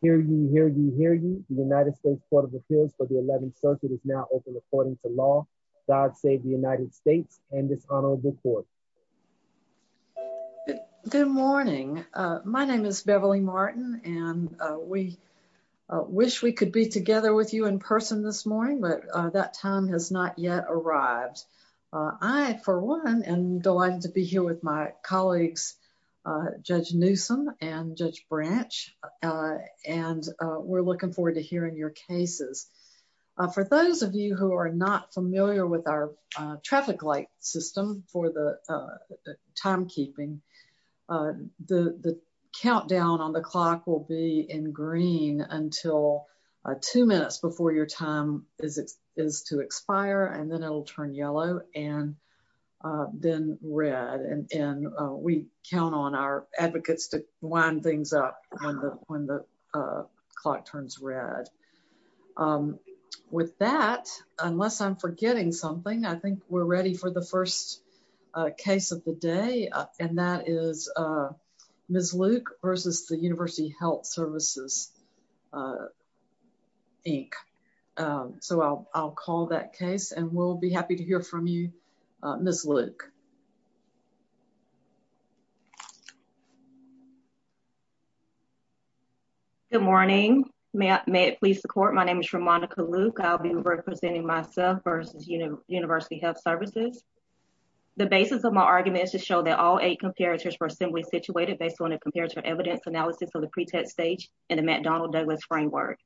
here. You hear you hear you. The United States Court of Appeals for the 11th Circuit is now open, according to law. God save the United States and dishonorable court. Good morning. My name is Beverly Martin, and we wish we could be together with you in person this morning. But that time has not yet arrived. I, for one, and delighted to be here with my colleagues, Judge Newsome and Judge Branch. And we're looking forward to hearing your cases. For those of you who are not familiar with our traffic light system for the timekeeping, the countdown on the clock will be in green until two minutes before your time is, is to expire, and then it'll turn yellow, and then red. And we count on our advocates to wind things up when the when the clock turns red. With that, unless I'm forgetting something, I think we're ready for the first case of the day. And that is Miss Luke versus the University Health Services, Inc. So I'll call that case, and we'll be happy to hear from you, Miss Luke. Good morning. May I, may it please the court. My name is Ramonica Luke. I'll be representing myself versus University Health Services. The basis of my argument is to show that all eight comparators were simply situated based on a comparative evidence analysis of the pretest stage in the McDonnell Douglas framework.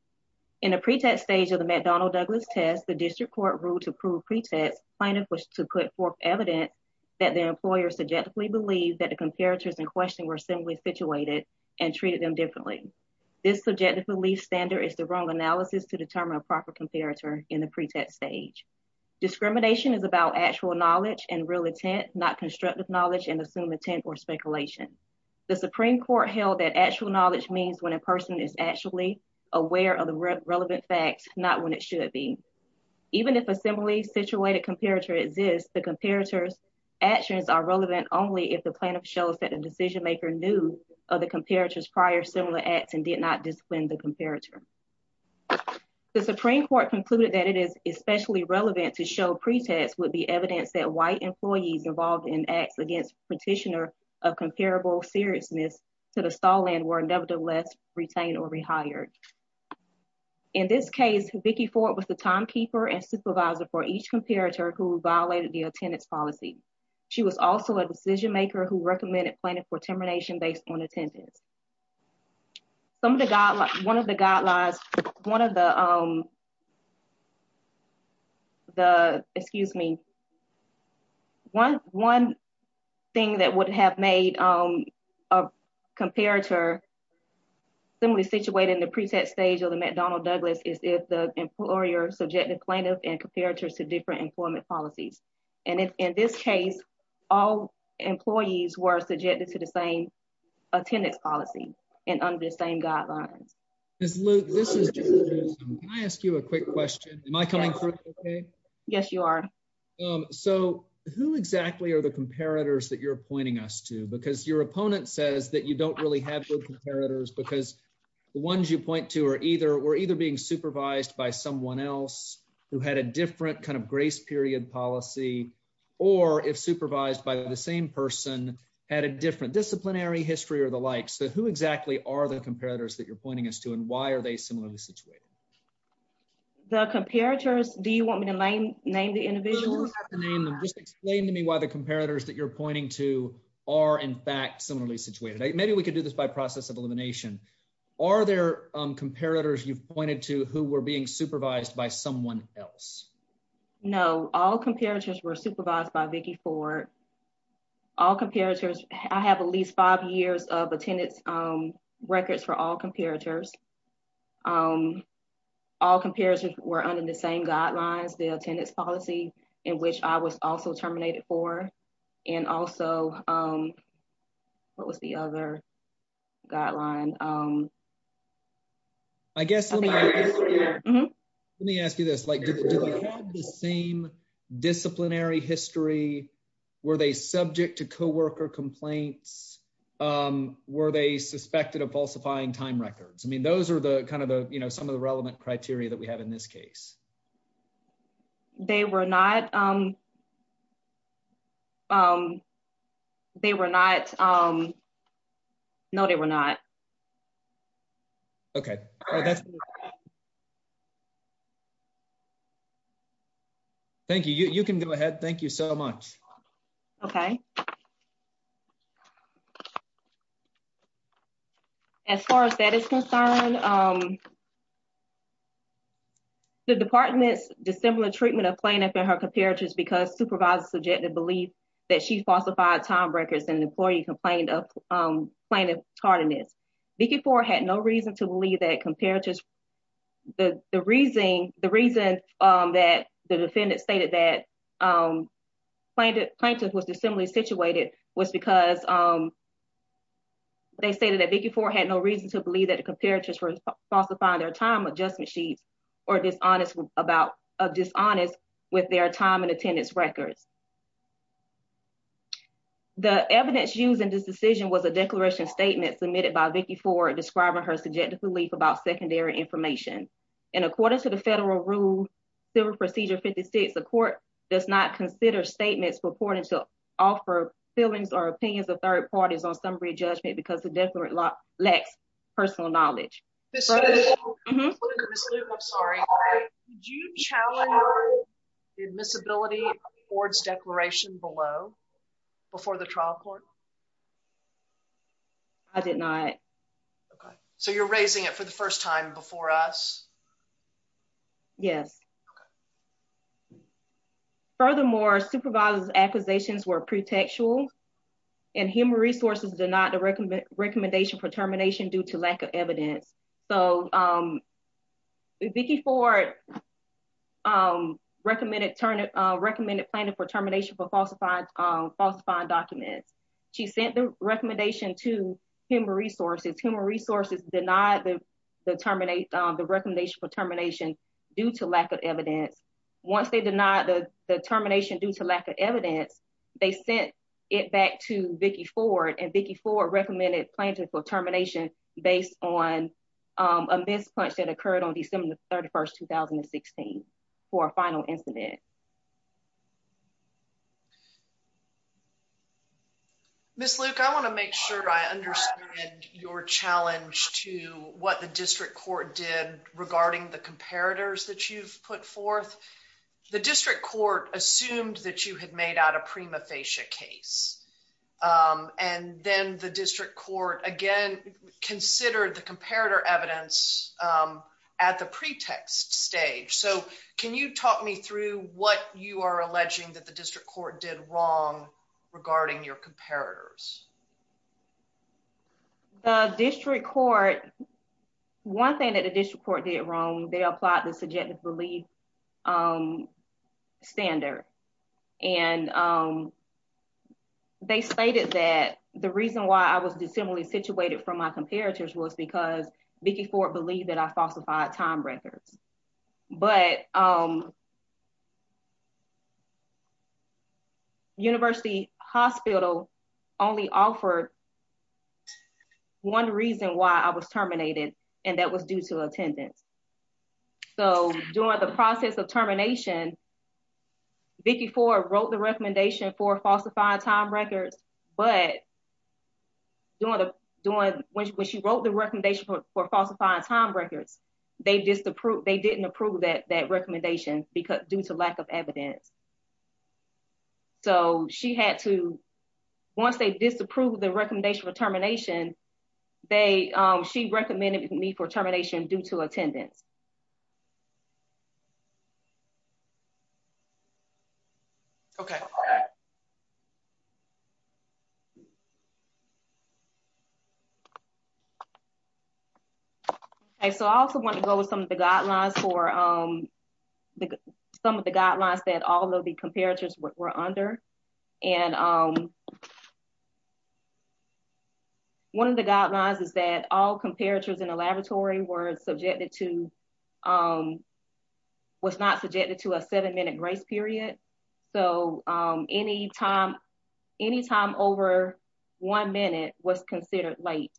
In a pretest stage of the McDonnell Douglas test, the district court ruled to prove pretest plaintiff was to put forth evidence that the employer subjectively believed that the comparators in question were simply situated and treated them differently. This subjective belief standard is the wrong analysis to determine a proper comparator in the pretest stage. Discrimination is about actual knowledge and real intent, not constructive knowledge and assumed intent or speculation. The Supreme Court held that actual knowledge means when a person is actually aware of the relevant facts, not when it should be. Even if a similarly situated comparator exists, the comparator's actions are relevant only if the plaintiff shows that a decision maker knew of the comparators prior similar acts and did not discipline the comparator. The Supreme Court concluded that it is especially relevant to show pretest would be evidence that white employees involved in acts against petitioner of comparable seriousness to the stall and were nevertheless retained or rehired. In this case, Vicki Ford was the timekeeper and supervisor for each comparator who violated the attendance policy. She was also a decision maker who recommended planning for termination based on attendance. Some of the God, one of the guidelines, one of the, um, the excuse me, one one thing that would have made a comparator similarly situated in the pretest stage of the McDonnell Douglas is if the employer subjected plaintiff and comparators to different employment policies. And in this case, all employees were subjected to the same attendance policy and under the same guidelines. This is Luke. This is I ask you a quick question. Am I coming through? Yes, you are. So who exactly are the comparators that you're appointing us to? Because your opponent says that you don't really have good comparators because the ones you point to or either were either being supervised by someone else who had a different kind of grace period policy or if supervised by the same person had a different disciplinary history or the like. So who exactly are the comparators that you're really situated? The comparators. Do you want me to name name the individual name? Just explain to me why the comparators that you're pointing to are in fact similarly situated. Maybe we could do this by process of elimination. Are there comparators you've pointed to who were being supervised by someone else? No, all comparators were supervised by Vicky Ford. All comparators. I have at least five years of attendance records for all comparators. Um, all comparators were under the same guidelines, the attendance policy in which I was also terminated for. And also, um, what was the other guideline? Um, I guess let me ask you this. Like the same disciplinary history. Were they subject to co worker complaints? Um, were they suspected of falsifying time records? I mean, those are the kind of the, you know, some of the relevant criteria that we have in this case. They were not. Um, um, they were not. Um, no, they were not. Okay. Oh, that's thank you. You can go ahead. Thank you so much. Okay. As far as that is concerned, um, the department's dissimilar treatment of plaintiff in her comparators because supervisor subjected belief that she falsified time records and employee complained of plaintiff tardiness. Vicky Ford had no reason to believe that comparators the reason the reason that the defendant stated that, um, plaintiff plaintiff was dissimilarly situated was because, um, they stated that Vicky Ford had no reason to believe that the comparators were falsifying their time adjustment sheets or dishonest about dishonest with their time and attendance records. The evidence used in this decision was a declaration statement submitted by before describing her subjective belief about secondary information. And according to the federal rule, Civil Procedure 56, the court does not consider statements purported to offer feelings or opinions of third parties on summary judgment because the definite lot lacks personal knowledge. I'm sorry. Do you challenge admissibility boards declaration below before the trial court? No, I did not. Okay, so you're raising it for the first time before us. Yes. Furthermore, supervisor's acquisitions were pretextual and human resources did not recommend recommendation for termination due to lack of evidence. So, um, Vicky Ford, um, recommended Turner recommended planning for termination for falsified, um, falsifying documents. She sent the recommendation to human resources, human resources, denied the terminate, um, the recommendation for termination due to lack of evidence. Once they did not, the termination due to lack of evidence, they sent it back to Vicky Ford and Vicky Ford recommended plaintiff for termination based on, um, a mispunch that occurred on December 31st, 2016 for a final incident. Yeah. Miss Luke, I want to make sure I understand your challenge to what the district court did regarding the comparators that you've put forth. The district court assumed that you had made out a prima facie case. Um, and then the district court again considered the comparator evidence, um, at the pretext stage. So can you talk me through what you are alleging that the district court did wrong regarding your comparators? The district court. One thing that additional court did wrong. They applied the subjective belief, um, standard and, um, they stated that the reason why I was dissimilarly situated from my comparators was because Vicky Ford believed that I falsified time records. But, um, university hospital only offered one reason why I was terminated and that was due to attendance. So during the process of termination, Vicky Ford wrote the recommendation for falsifying time records. But you want to doing when she wrote the recommendation for falsifying time records, they just approved. They didn't approve that that recommendation because due to lack of evidence, so she had to once they disapprove the recommendation for termination, they she recommended me for termination due to attendance. Okay. So I also want to go with some of the guidelines for, um, some of the comparators were under and, um, one of the guidelines is that all comparators in the laboratory were subjected to, um, was not subjected to a seven minute grace period. So, um, any time, any time over one minute was considered late.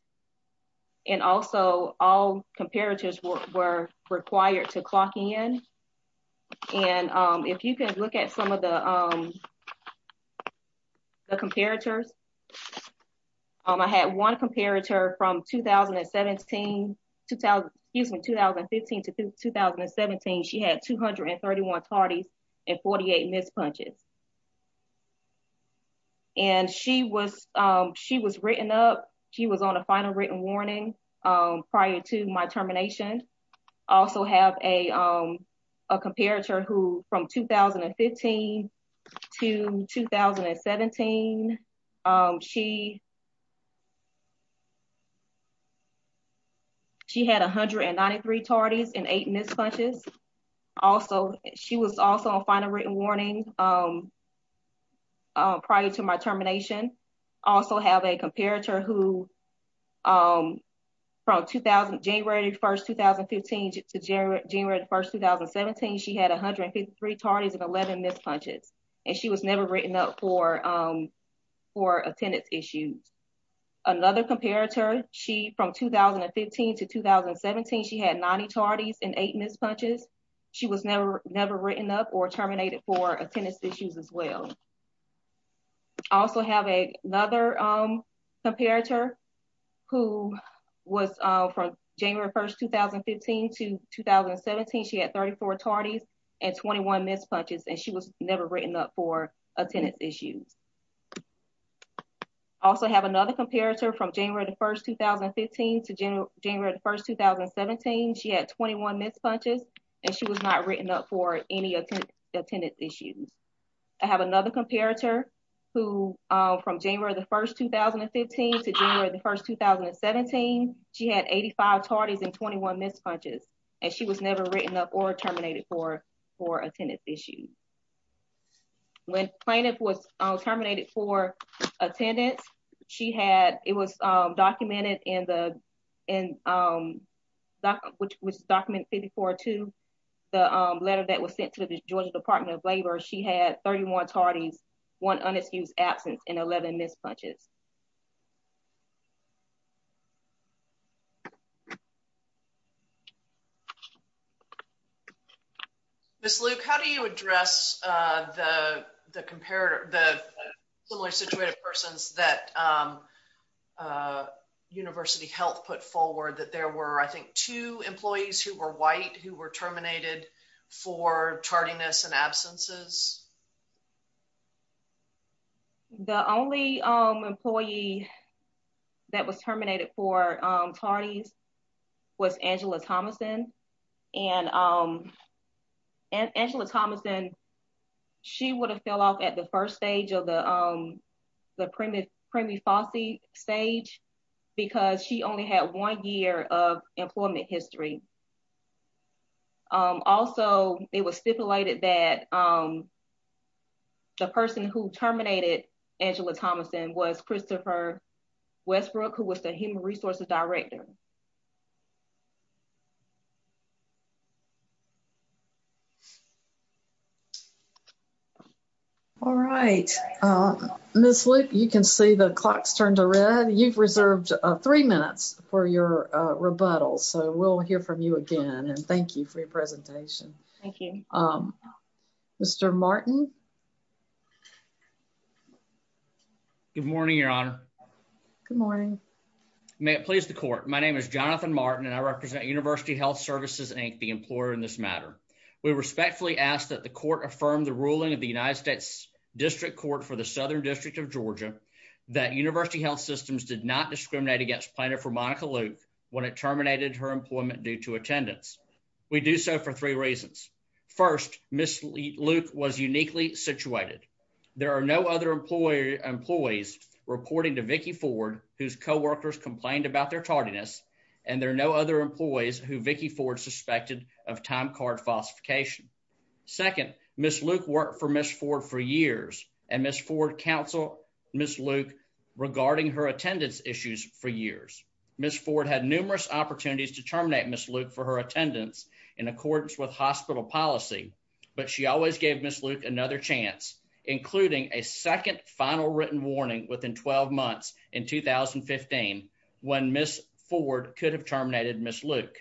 And also all comparators were required to clock in. And if you could look at some of the, um, the comparators. I had one comparator from 2000 and 17 2000, excuse me, 2015 to 2017. She had 231 parties and 48 mispunches. And she was, um, she was written up. She was on a final written warning. Um, I also have a, um, a comparator who from 2015 to 2017, um, she, she had 193 parties and eight mispunches. Also, she was also on final written warning. Um, prior to my termination, also have a comparator who, um, from 2000 January 1st, 2015 to January 1st, 2017, she had 153 parties and 11 mispunches and she was never written up for, um, for attendance issues. Another comparator she from 2015 to 2017, she had 90 parties and eight mispunches. She was never, never written up or terminated for attendance issues as well. I also have a another, um, comparator who was from January 1st, 2015 to 2017. She had 34 parties and 21 mispunches and she was never written up for attendance issues. Also have another comparator from January 1st, 2015 to January 1st, 2017. She had 21 mispunches and she was not written up for any attendance issues. I have another comparator who, um, from January 1st, 2015 to January 1st, 2017, she had 85 parties and 21 mispunches and she was never written up or terminated for, for attendance issues. When plaintiff was terminated for attendance, she had, it was, um, documented in the, in, um, doc, which was document 54 to the, um, letter that was sent to the Georgia Department of Labor. She had 31 parties, one unexcused absence and 11 mispunches. Miss Luke, how do you address the comparator, the similar situated persons that, um, uh, University Health put forward that there were, I think, two employees who were white, who were terminated for tardiness and absences? The only, um, employee that was terminated for, um, tardies was Angela Thomason. And, um, and Angela Thomason, she would have fell off at the first stage of the, um, the preemie, preemie Fossey stage because she only had one year of employment history. Um, also it was stipulated that, um, the person who terminated Angela Thomason was Christopher Westbrook, who was the human resources director. All right. Um, Miss Luke, you can see the clocks turned to red. You've got your, uh, rebuttal. So we'll hear from you again. And thank you for your presentation. Thank you. Um, Mr. Martin. Good morning, Your Honor. Good morning. May it please the court. My name is Jonathan Martin, and I represent University Health Services, Inc. The employer in this matter. We respectfully ask that the court affirm the ruling of the United States District Court for the Southern District of Georgia that University Health Systems did not discriminate against plaintiff for Monica Luke when it terminated her employment due to attendance. We do so for three reasons. First, Miss Luke was uniquely situated. There are no other employer employees reporting to Vicki Ford, whose co workers complained about their tardiness, and there are no other employees who Vicki Ford suspected of time card falsification. Second, Miss Luke worked for Miss Ford for years and Miss Ford Council Miss Luke regarding her attendance issues for years. Miss Ford had numerous opportunities to terminate Miss Luke for her attendance in accordance with hospital policy, but she always gave Miss Luke another chance, including a second final written warning within 12 months in 2015 when Miss Ford could have terminated Miss Luke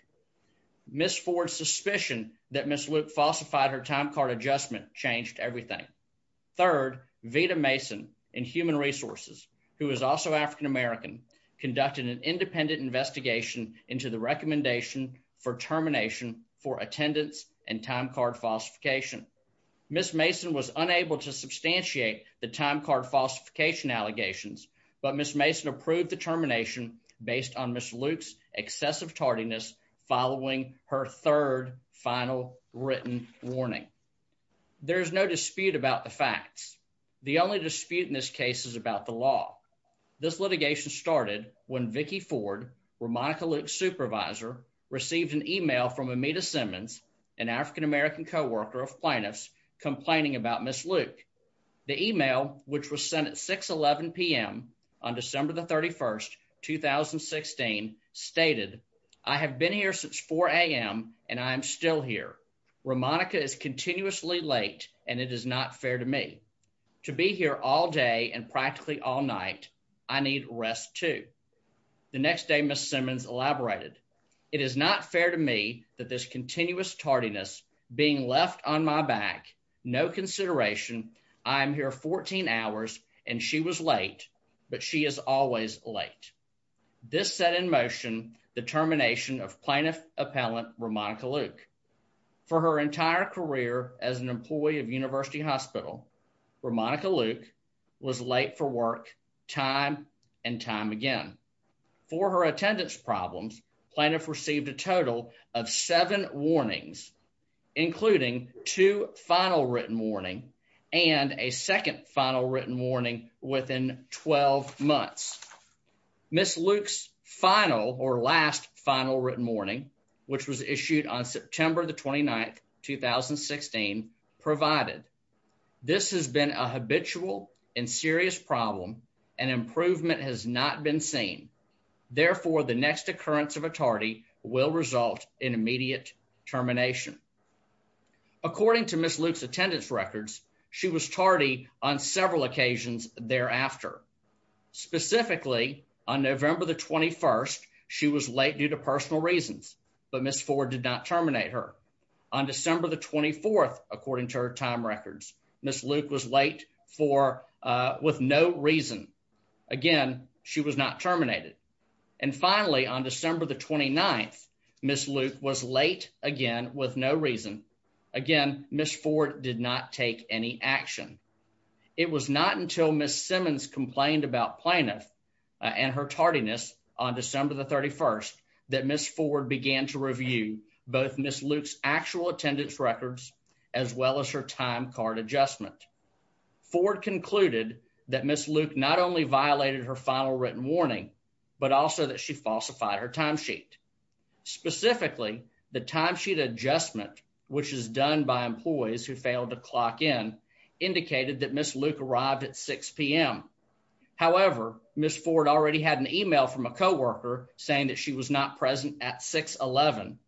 Miss Ford suspicion that Miss Luke falsified her time card adjustment changed everything. Third, Vita Mason and Human Resources, who is also African American, conducted an independent investigation into the recommendation for termination for attendance and time card falsification. Miss Mason was unable to substantiate the time card falsification allegations, but Miss Mason approved the termination based on Miss Luke's excessive tardiness. Following her third final written warning, there is no dispute about the facts. The only dispute in this case is about the law. This litigation started when Vicki Ford, where Monica Luke supervisor received an email from Amita Simmons, an African American co worker of plaintiffs complaining about Miss Luke. The email, which was sent at 6 11 p.m. On December the 31st 2016 stated, I have been here since four a.m. And I'm still here where Monica is continuously late, and it is not fair to me to be here all day and practically all night. I need rest to the next day. Miss Simmons elaborated. It is not fair to me that this continuous tardiness being left on my back. No consideration. I'm here 14 hours, and she was late, but she is always late. This set in motion the termination of plaintiff appellant. We're Monica Luke for her entire career as an employee of University Hospital, where Monica Luke was late for work time and time again. For her attendance problems, plaintiff received a total of seven warnings, including two final written warning and a second final written warning. Within 12 months, Miss Luke's final or last final written warning, which was issued on September the 29th 2016 provided. This has been a habitual and serious problem, and improvement has not been seen. Therefore, the next occurrence of a tardy will result in immediate termination. According to Miss Luke's attendance records, she was tardy on several occasions thereafter. Specifically on November the 21st, she was late due to personal reasons, but Miss Ford did not terminate her on December the 24th. According to her time records, Miss Luke was late for with no reason again. She was not terminated. And finally, on December the 29th, Miss Luke was late again with no reason again. Miss Ford did not take any action. It was not until Miss Simmons complained about plaintiff and her tardiness on December the 31st that Miss Ford began to review both Miss Luke's actual attendance records as well as her time card adjustment. Ford concluded that Miss Luke not only violated her final written warning, but also that she adjustment, which is done by employees who failed to clock in, indicated that Miss Luke arrived at six p.m. However, Miss Ford already had an email from a co worker saying that she was not present at 6 11.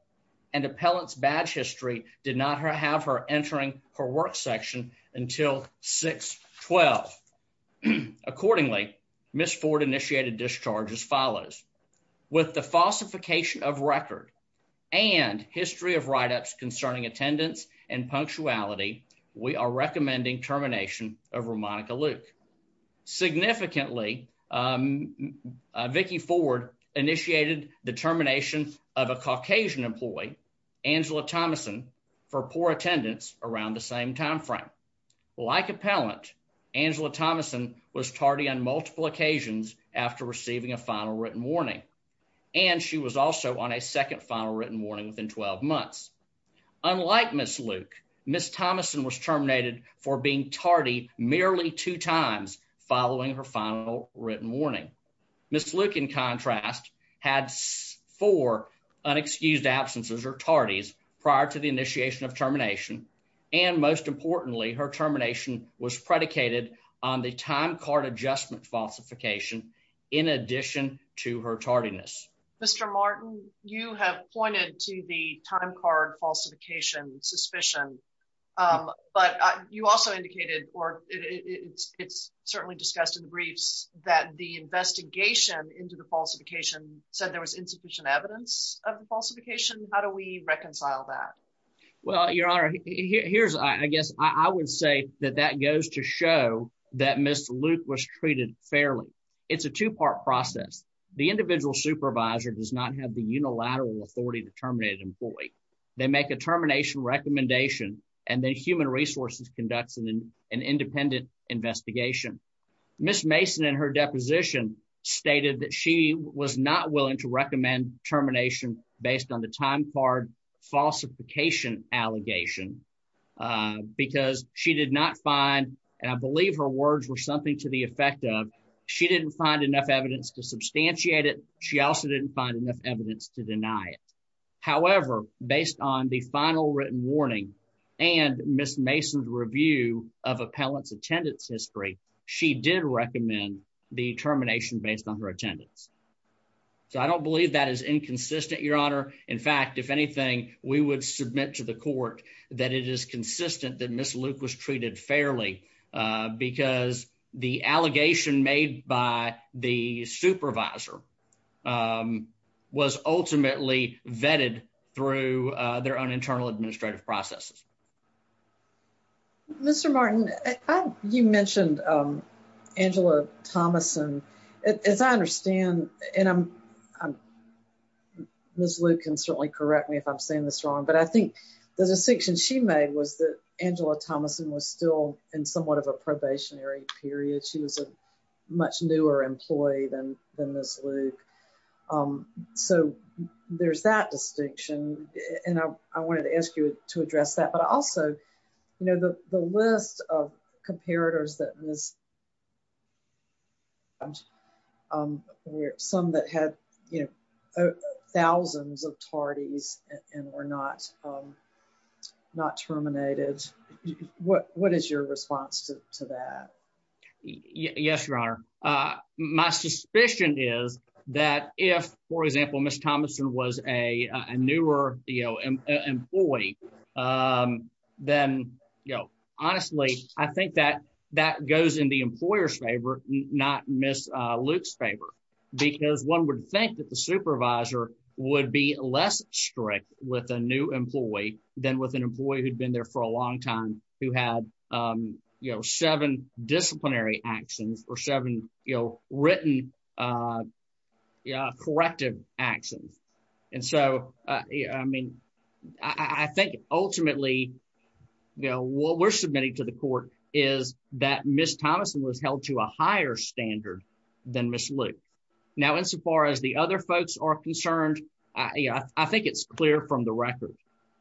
And appellants badge history did not have her entering her work section until 6 12. Accordingly, Miss Ford initiated discharge as follows. With the falsification of record and history of write ups concerning attendance and punctuality, we are recommending termination over Monica Luke. Significantly, um, Vicky Ford initiated the termination of a Caucasian employee, Angela Thomason, for poor attendance around the same time frame. Like appellant, Angela Thomason was tardy on multiple occasions after receiving a final written warning, and she was also on a second final written warning within 12 months. Unlike Miss Luke, Miss Thomason was terminated for being tardy merely two times following her final written warning. Miss Luke, in contrast, had four unexcused absences or tardies prior to the initiation of termination. And most importantly, her termination was predicated on the time card adjustment falsification. In addition to her tardiness, Mr Martin, you have pointed to the time card falsification suspicion. But you also indicated or it's certainly discussed in the briefs that the investigation into the falsification said there was insufficient evidence of falsification. How do we reconcile that? Well, your honor, here's I guess I would say that that goes to show that Miss Luke was treated fairly. It's a two part process. The individual supervisor does not have the unilateral authority to terminate employee. They make a termination recommendation and then human resources conducts in an independent investigation. Miss Mason and her deposition stated that she was not willing to recommend termination based on the time card falsification allegation because she did not find and I believe her words were something to the effect of. She didn't find enough evidence to substantiate it. She also didn't find enough evidence to deny it. However, based on the final written warning and Miss Mason's review of appellants attendance history, she did recommend the termination based on her attendance. So I don't believe that is inconsistent, your honor. In fact, if anything, we would submit to the court that it is consistent that Miss Luke was treated fairly because the allegation made by the supervisor, um, was ultimately vetted through their own internal administrative processes. Mr Martin, you mentioned Angela Thomason. As I understand, and I'm Miss Luke can certainly correct me if I'm saying this wrong, but I think the distinction she made was that Angela Thomason was still in somewhat of a probationary period. She was a much newer employee than than this Luke. Um, so there's that distinction. And I wanted to ask you to address that. But also, you know, the list of comparators that Miss Thompson, um, some that had, you know, thousands of tardies and we're not, um, not terminated. What? What is your response to that? Yes, your honor. My suspicion is that if, for example, Miss Thomason was a newer, you know, employee, um, then, you know, honestly, I think that that goes in the employer's favor, not Miss Luke's favor, because one would think that the supervisor would be less strict with a new employee than with an employee who'd been there for a long time, who had, you know, seven disciplinary actions or seven, you know, written, uh, corrective actions. And so, I mean, I think ultimately, you know, what we're submitting to the court is that Miss Thomason was held to a higher standard than Miss Luke. Now, insofar as the other folks are concerned, I think it's clear from the record,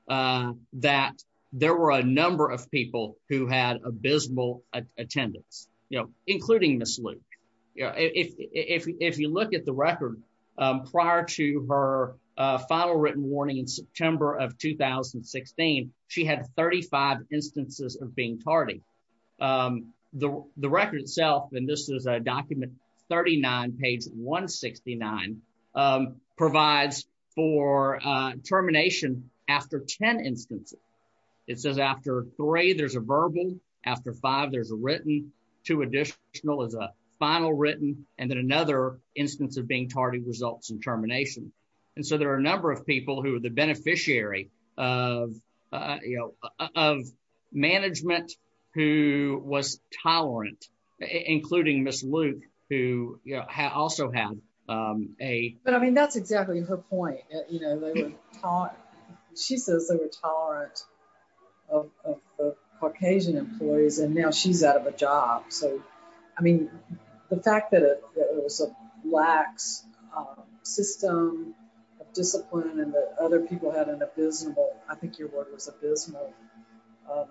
uh, that there were a number of people who had abysmal attendance, you know, including Miss Luke. If, if you look at the record, um, prior to her, uh, final written warning in September of 2016, she had 35 instances of being tardy. Um, the, the record itself, and this is a document, 39 page 169, um, provides for, uh, termination after 10 instances. It after five, there's a written, two additional as a final written, and then another instance of being tardy results in termination. And so there are a number of people who are the beneficiary of, uh, you know, of management who was tolerant, including Miss Luke, who also had, um, a... But I mean, that's exactly her point. You know, they were tolerant. She says they were tolerant of, of the Caucasian employees, and now she's out of a job. So, I mean, the fact that it was a lax, um, system of discipline and that other people had an abysmal, I think your word was abysmal, um,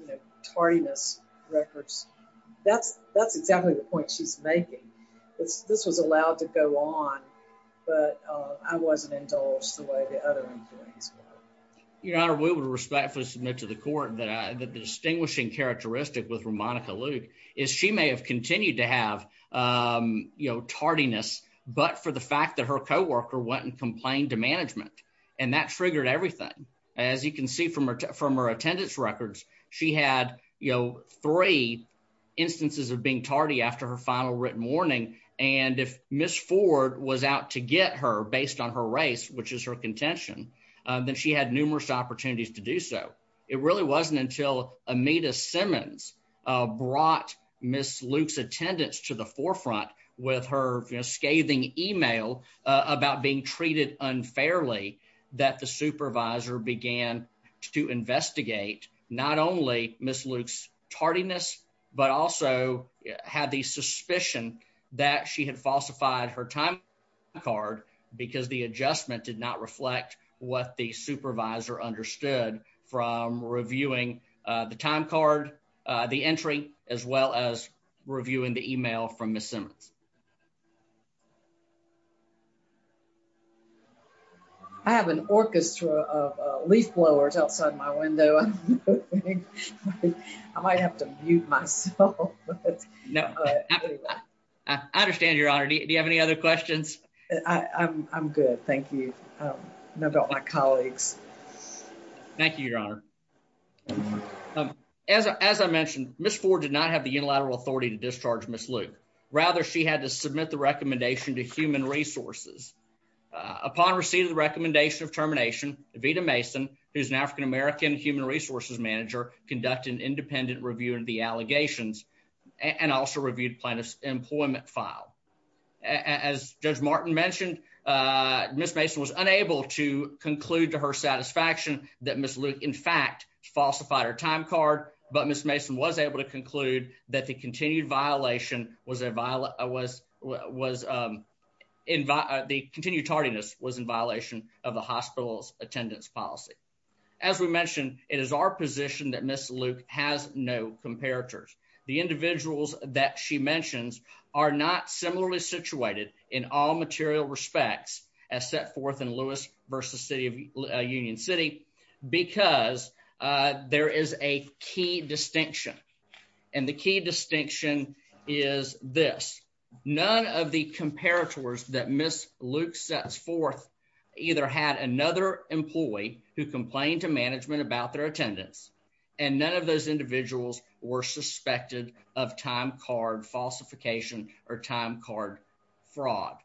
you know, tardiness records. That's, that's exactly the point she's making. It's, this was allowed to go. Your Honor, we would respectfully submit to the court that the distinguishing characteristic with Ramonica Luke is she may have continued to have, um, you know, tardiness, but for the fact that her coworker went and complained to management, and that triggered everything. As you can see from her, from her attendance records, she had, you know, three instances of being tardy after her final written warning. And if Miss Ford was out to get her based on her race, which is her contention, then she had numerous opportunities to do so. It really wasn't until Amita Simmons brought Miss Luke's attendance to the forefront with her scathing email about being treated unfairly that the supervisor began to investigate not only Miss Luke's tardiness, but also had the suspicion that she had falsified her time card because the adjustment did not reflect what the supervisor understood from reviewing the time card, the entry as well as reviewing the email from Miss Simmons. I have an orchestra of leaf blowers outside my window. I might have to mute myself. No, I understand. Your Honor. Do you have any other questions? I'm I'm good. Thank you. Um, about my colleagues. Thank you, Your Honor. Um, as as I mentioned, Miss Ford did not have the unilateral authority to discharge Miss Luke. Rather, she had to submit the recommendation to human resources. Upon receiving the recommendation of termination, Vida Mason, who's an African American human resources manager, conducted an independent review of the allegations and also reviewed plaintiff's employment file. As Judge Martin mentioned, uh, Miss Mason was unable to conclude to her satisfaction that Miss Luke, in fact, falsified her time card. But Miss Mason was able to conclude that the continued violation was a violent was was, um, invite. The continued tardiness was in violation of the hospital's attendance policy. As we mentioned, it is our position that Miss Luke has no comparators. The individuals that she mentions are not similarly situated in all material respects as set forth in Lewis versus city of Union City because, uh, there is a key distinction, and the key distinction is this. None of the comparators that Miss Luke sets forth either had another employee who complained to management about their attendance, and none of those individuals were suspected of time card falsification or time card fraud.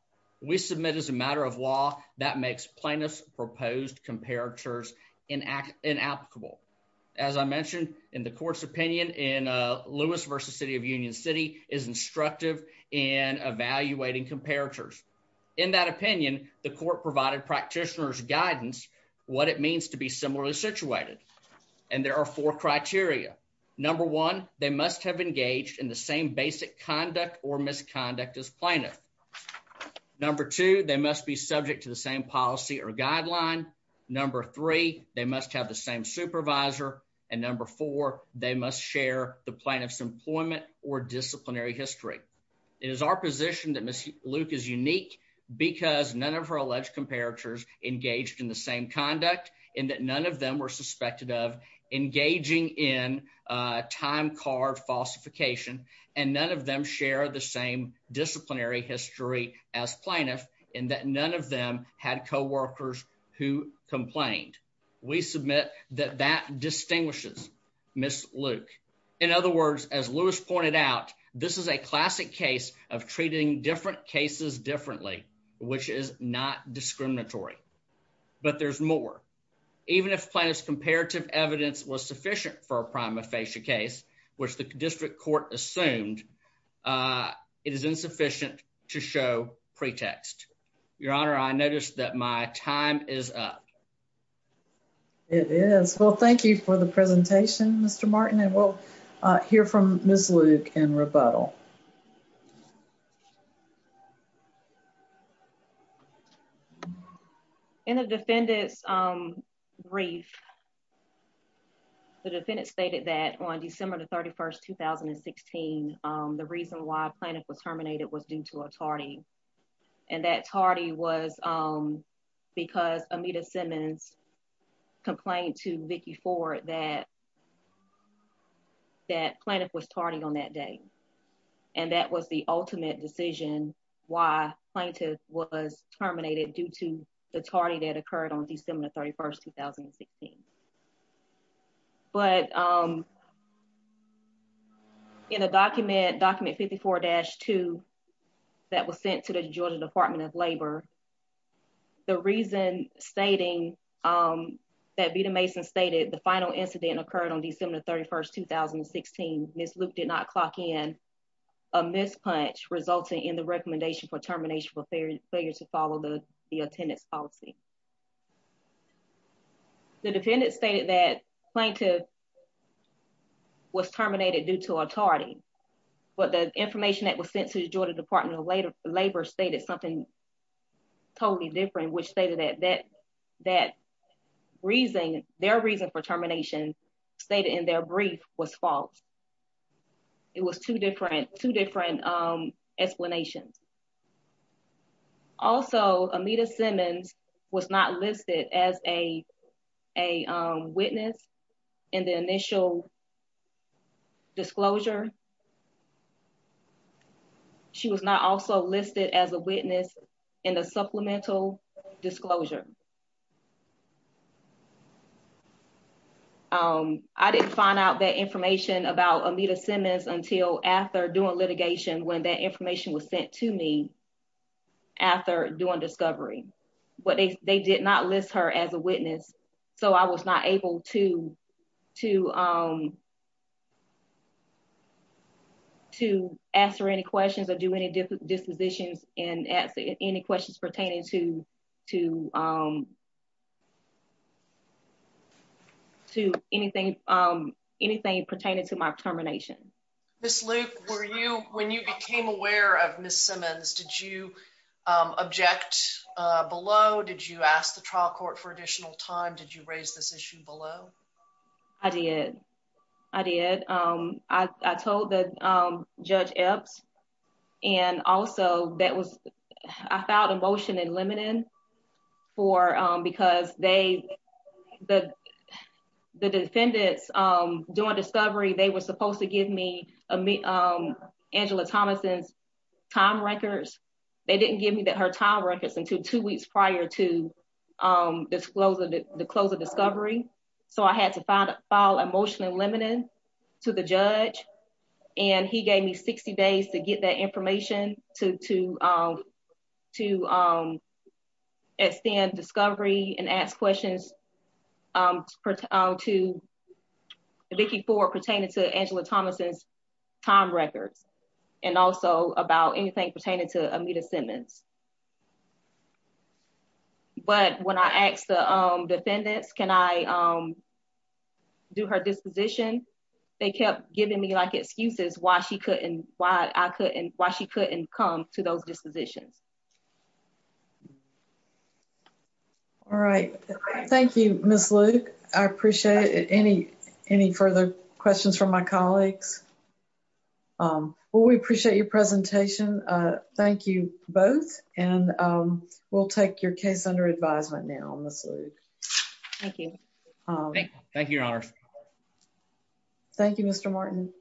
We submit as a matter of law that makes plaintiff's proposed comparators inact inapplicable. As I mentioned in the court's opinion in Lewis versus city of Union City is instructive and evaluating comparators. In that opinion, the court provided practitioners guidance. What it means to be similarly situated, and there are four criteria. Number one. They must have engaged in the same basic conduct or misconduct is plaintiff. Number two. They must be subject to the same policy or guideline. Number three. They must have the same supervisor and number four. They must share the plaintiff's employment or disciplinary history. It is our position that Miss Luke is unique because none of her alleged comparators engaged in the same conduct in that none of them were suspected of engaging in time card falsification, and none of them share the same disciplinary history as plaintiff in that none of them had co workers who complained. We submit that that distinguishes Miss Luke. In other words, as Lewis pointed out, this is a classic case of treating different cases differently, which is not discriminatory. But there's more. Even if plaintiff's comparative evidence was sufficient for a prime aphasia case, which the district court assumed, uh, it is insufficient to show pretext. Your honor, I noticed that my time is up. It is. Well, thank you for the presentation, Mr Martin. And we'll hear from Miss Luke and rebuttal. Mhm. In the defendant's, um, brief, the defendant stated that on December the 31st 2016, the reason why plaintiff was terminated was due to a tardy. And that tardy was, um, because Amita Simmons complained to Vicky for that that plaintiff was tardy on that day. And that was the ultimate decision. Why plaintiff was terminated due to the tardy that occurred on December 31st 2016. But, um, in a document document, 54-2 that was sent to the Georgia Department of Labor. The reason stating, um, that Vita Mason stated the final incident occurred on December 31st 2016. Miss Luke did not clock in a mispunch, resulting in the recommendation for termination for failure to follow the attendance policy. The defendant stated that plaintiff was terminated due to a tardy. But the information that was sent to the Georgia Department of Labor stated something totally different, which stated that that that reason, their reason for termination stated in their brief was false. It was two different, two different, um, explanations. Also, Amita Simmons was not listed as a, a witness in the initial disclosure. She was not also listed as a witness in the supplemental disclosure. Um, I didn't find out that information about Amita Simmons until after doing litigation, when that information was sent to me after doing discovery, but they, they did not list her as a witness. So I was not able to, to, um, to answer any questions or do any different dispositions and ask any questions pertaining to, to, um, to anything, um, anything pertaining to my termination. Miss Luke, were you when you became aware of Miss Simmons? Did you, um, object below? Did you ask the trial court for additional time? Did you raise this issue below? I did. I did. Um, I, I told the, um, judge Epps and also that was, I filed a motion in limiting for, um, because they, the, the defendants, um, doing discovery, they were supposed to give me, um, Angela Thomas's time records. They didn't give me that her time records until two weeks prior to, um, this the close of discovery. So I had to find a file emotionally limited to the judge. And he gave me 60 days to get that information to, to, um, to, um, extend discovery and ask questions, um, to Vicky Ford pertaining to Angela Thomas's time records and also about anything pertaining to Amita Simmons. But when I asked the, um, defendants, can I, um, do her disposition? They kept giving me like excuses why she couldn't, why I couldn't, why she couldn't come to those dispositions. All right. Thank you, Miss Luke. I appreciate it. Any, any further questions from my colleagues? Um, well, we appreciate your presentation. Uh, thank you both. And, um, we'll take your case under advisement now, Miss Luke. Thank you. Thank you, Your Honor. Thank you, Mr Martin.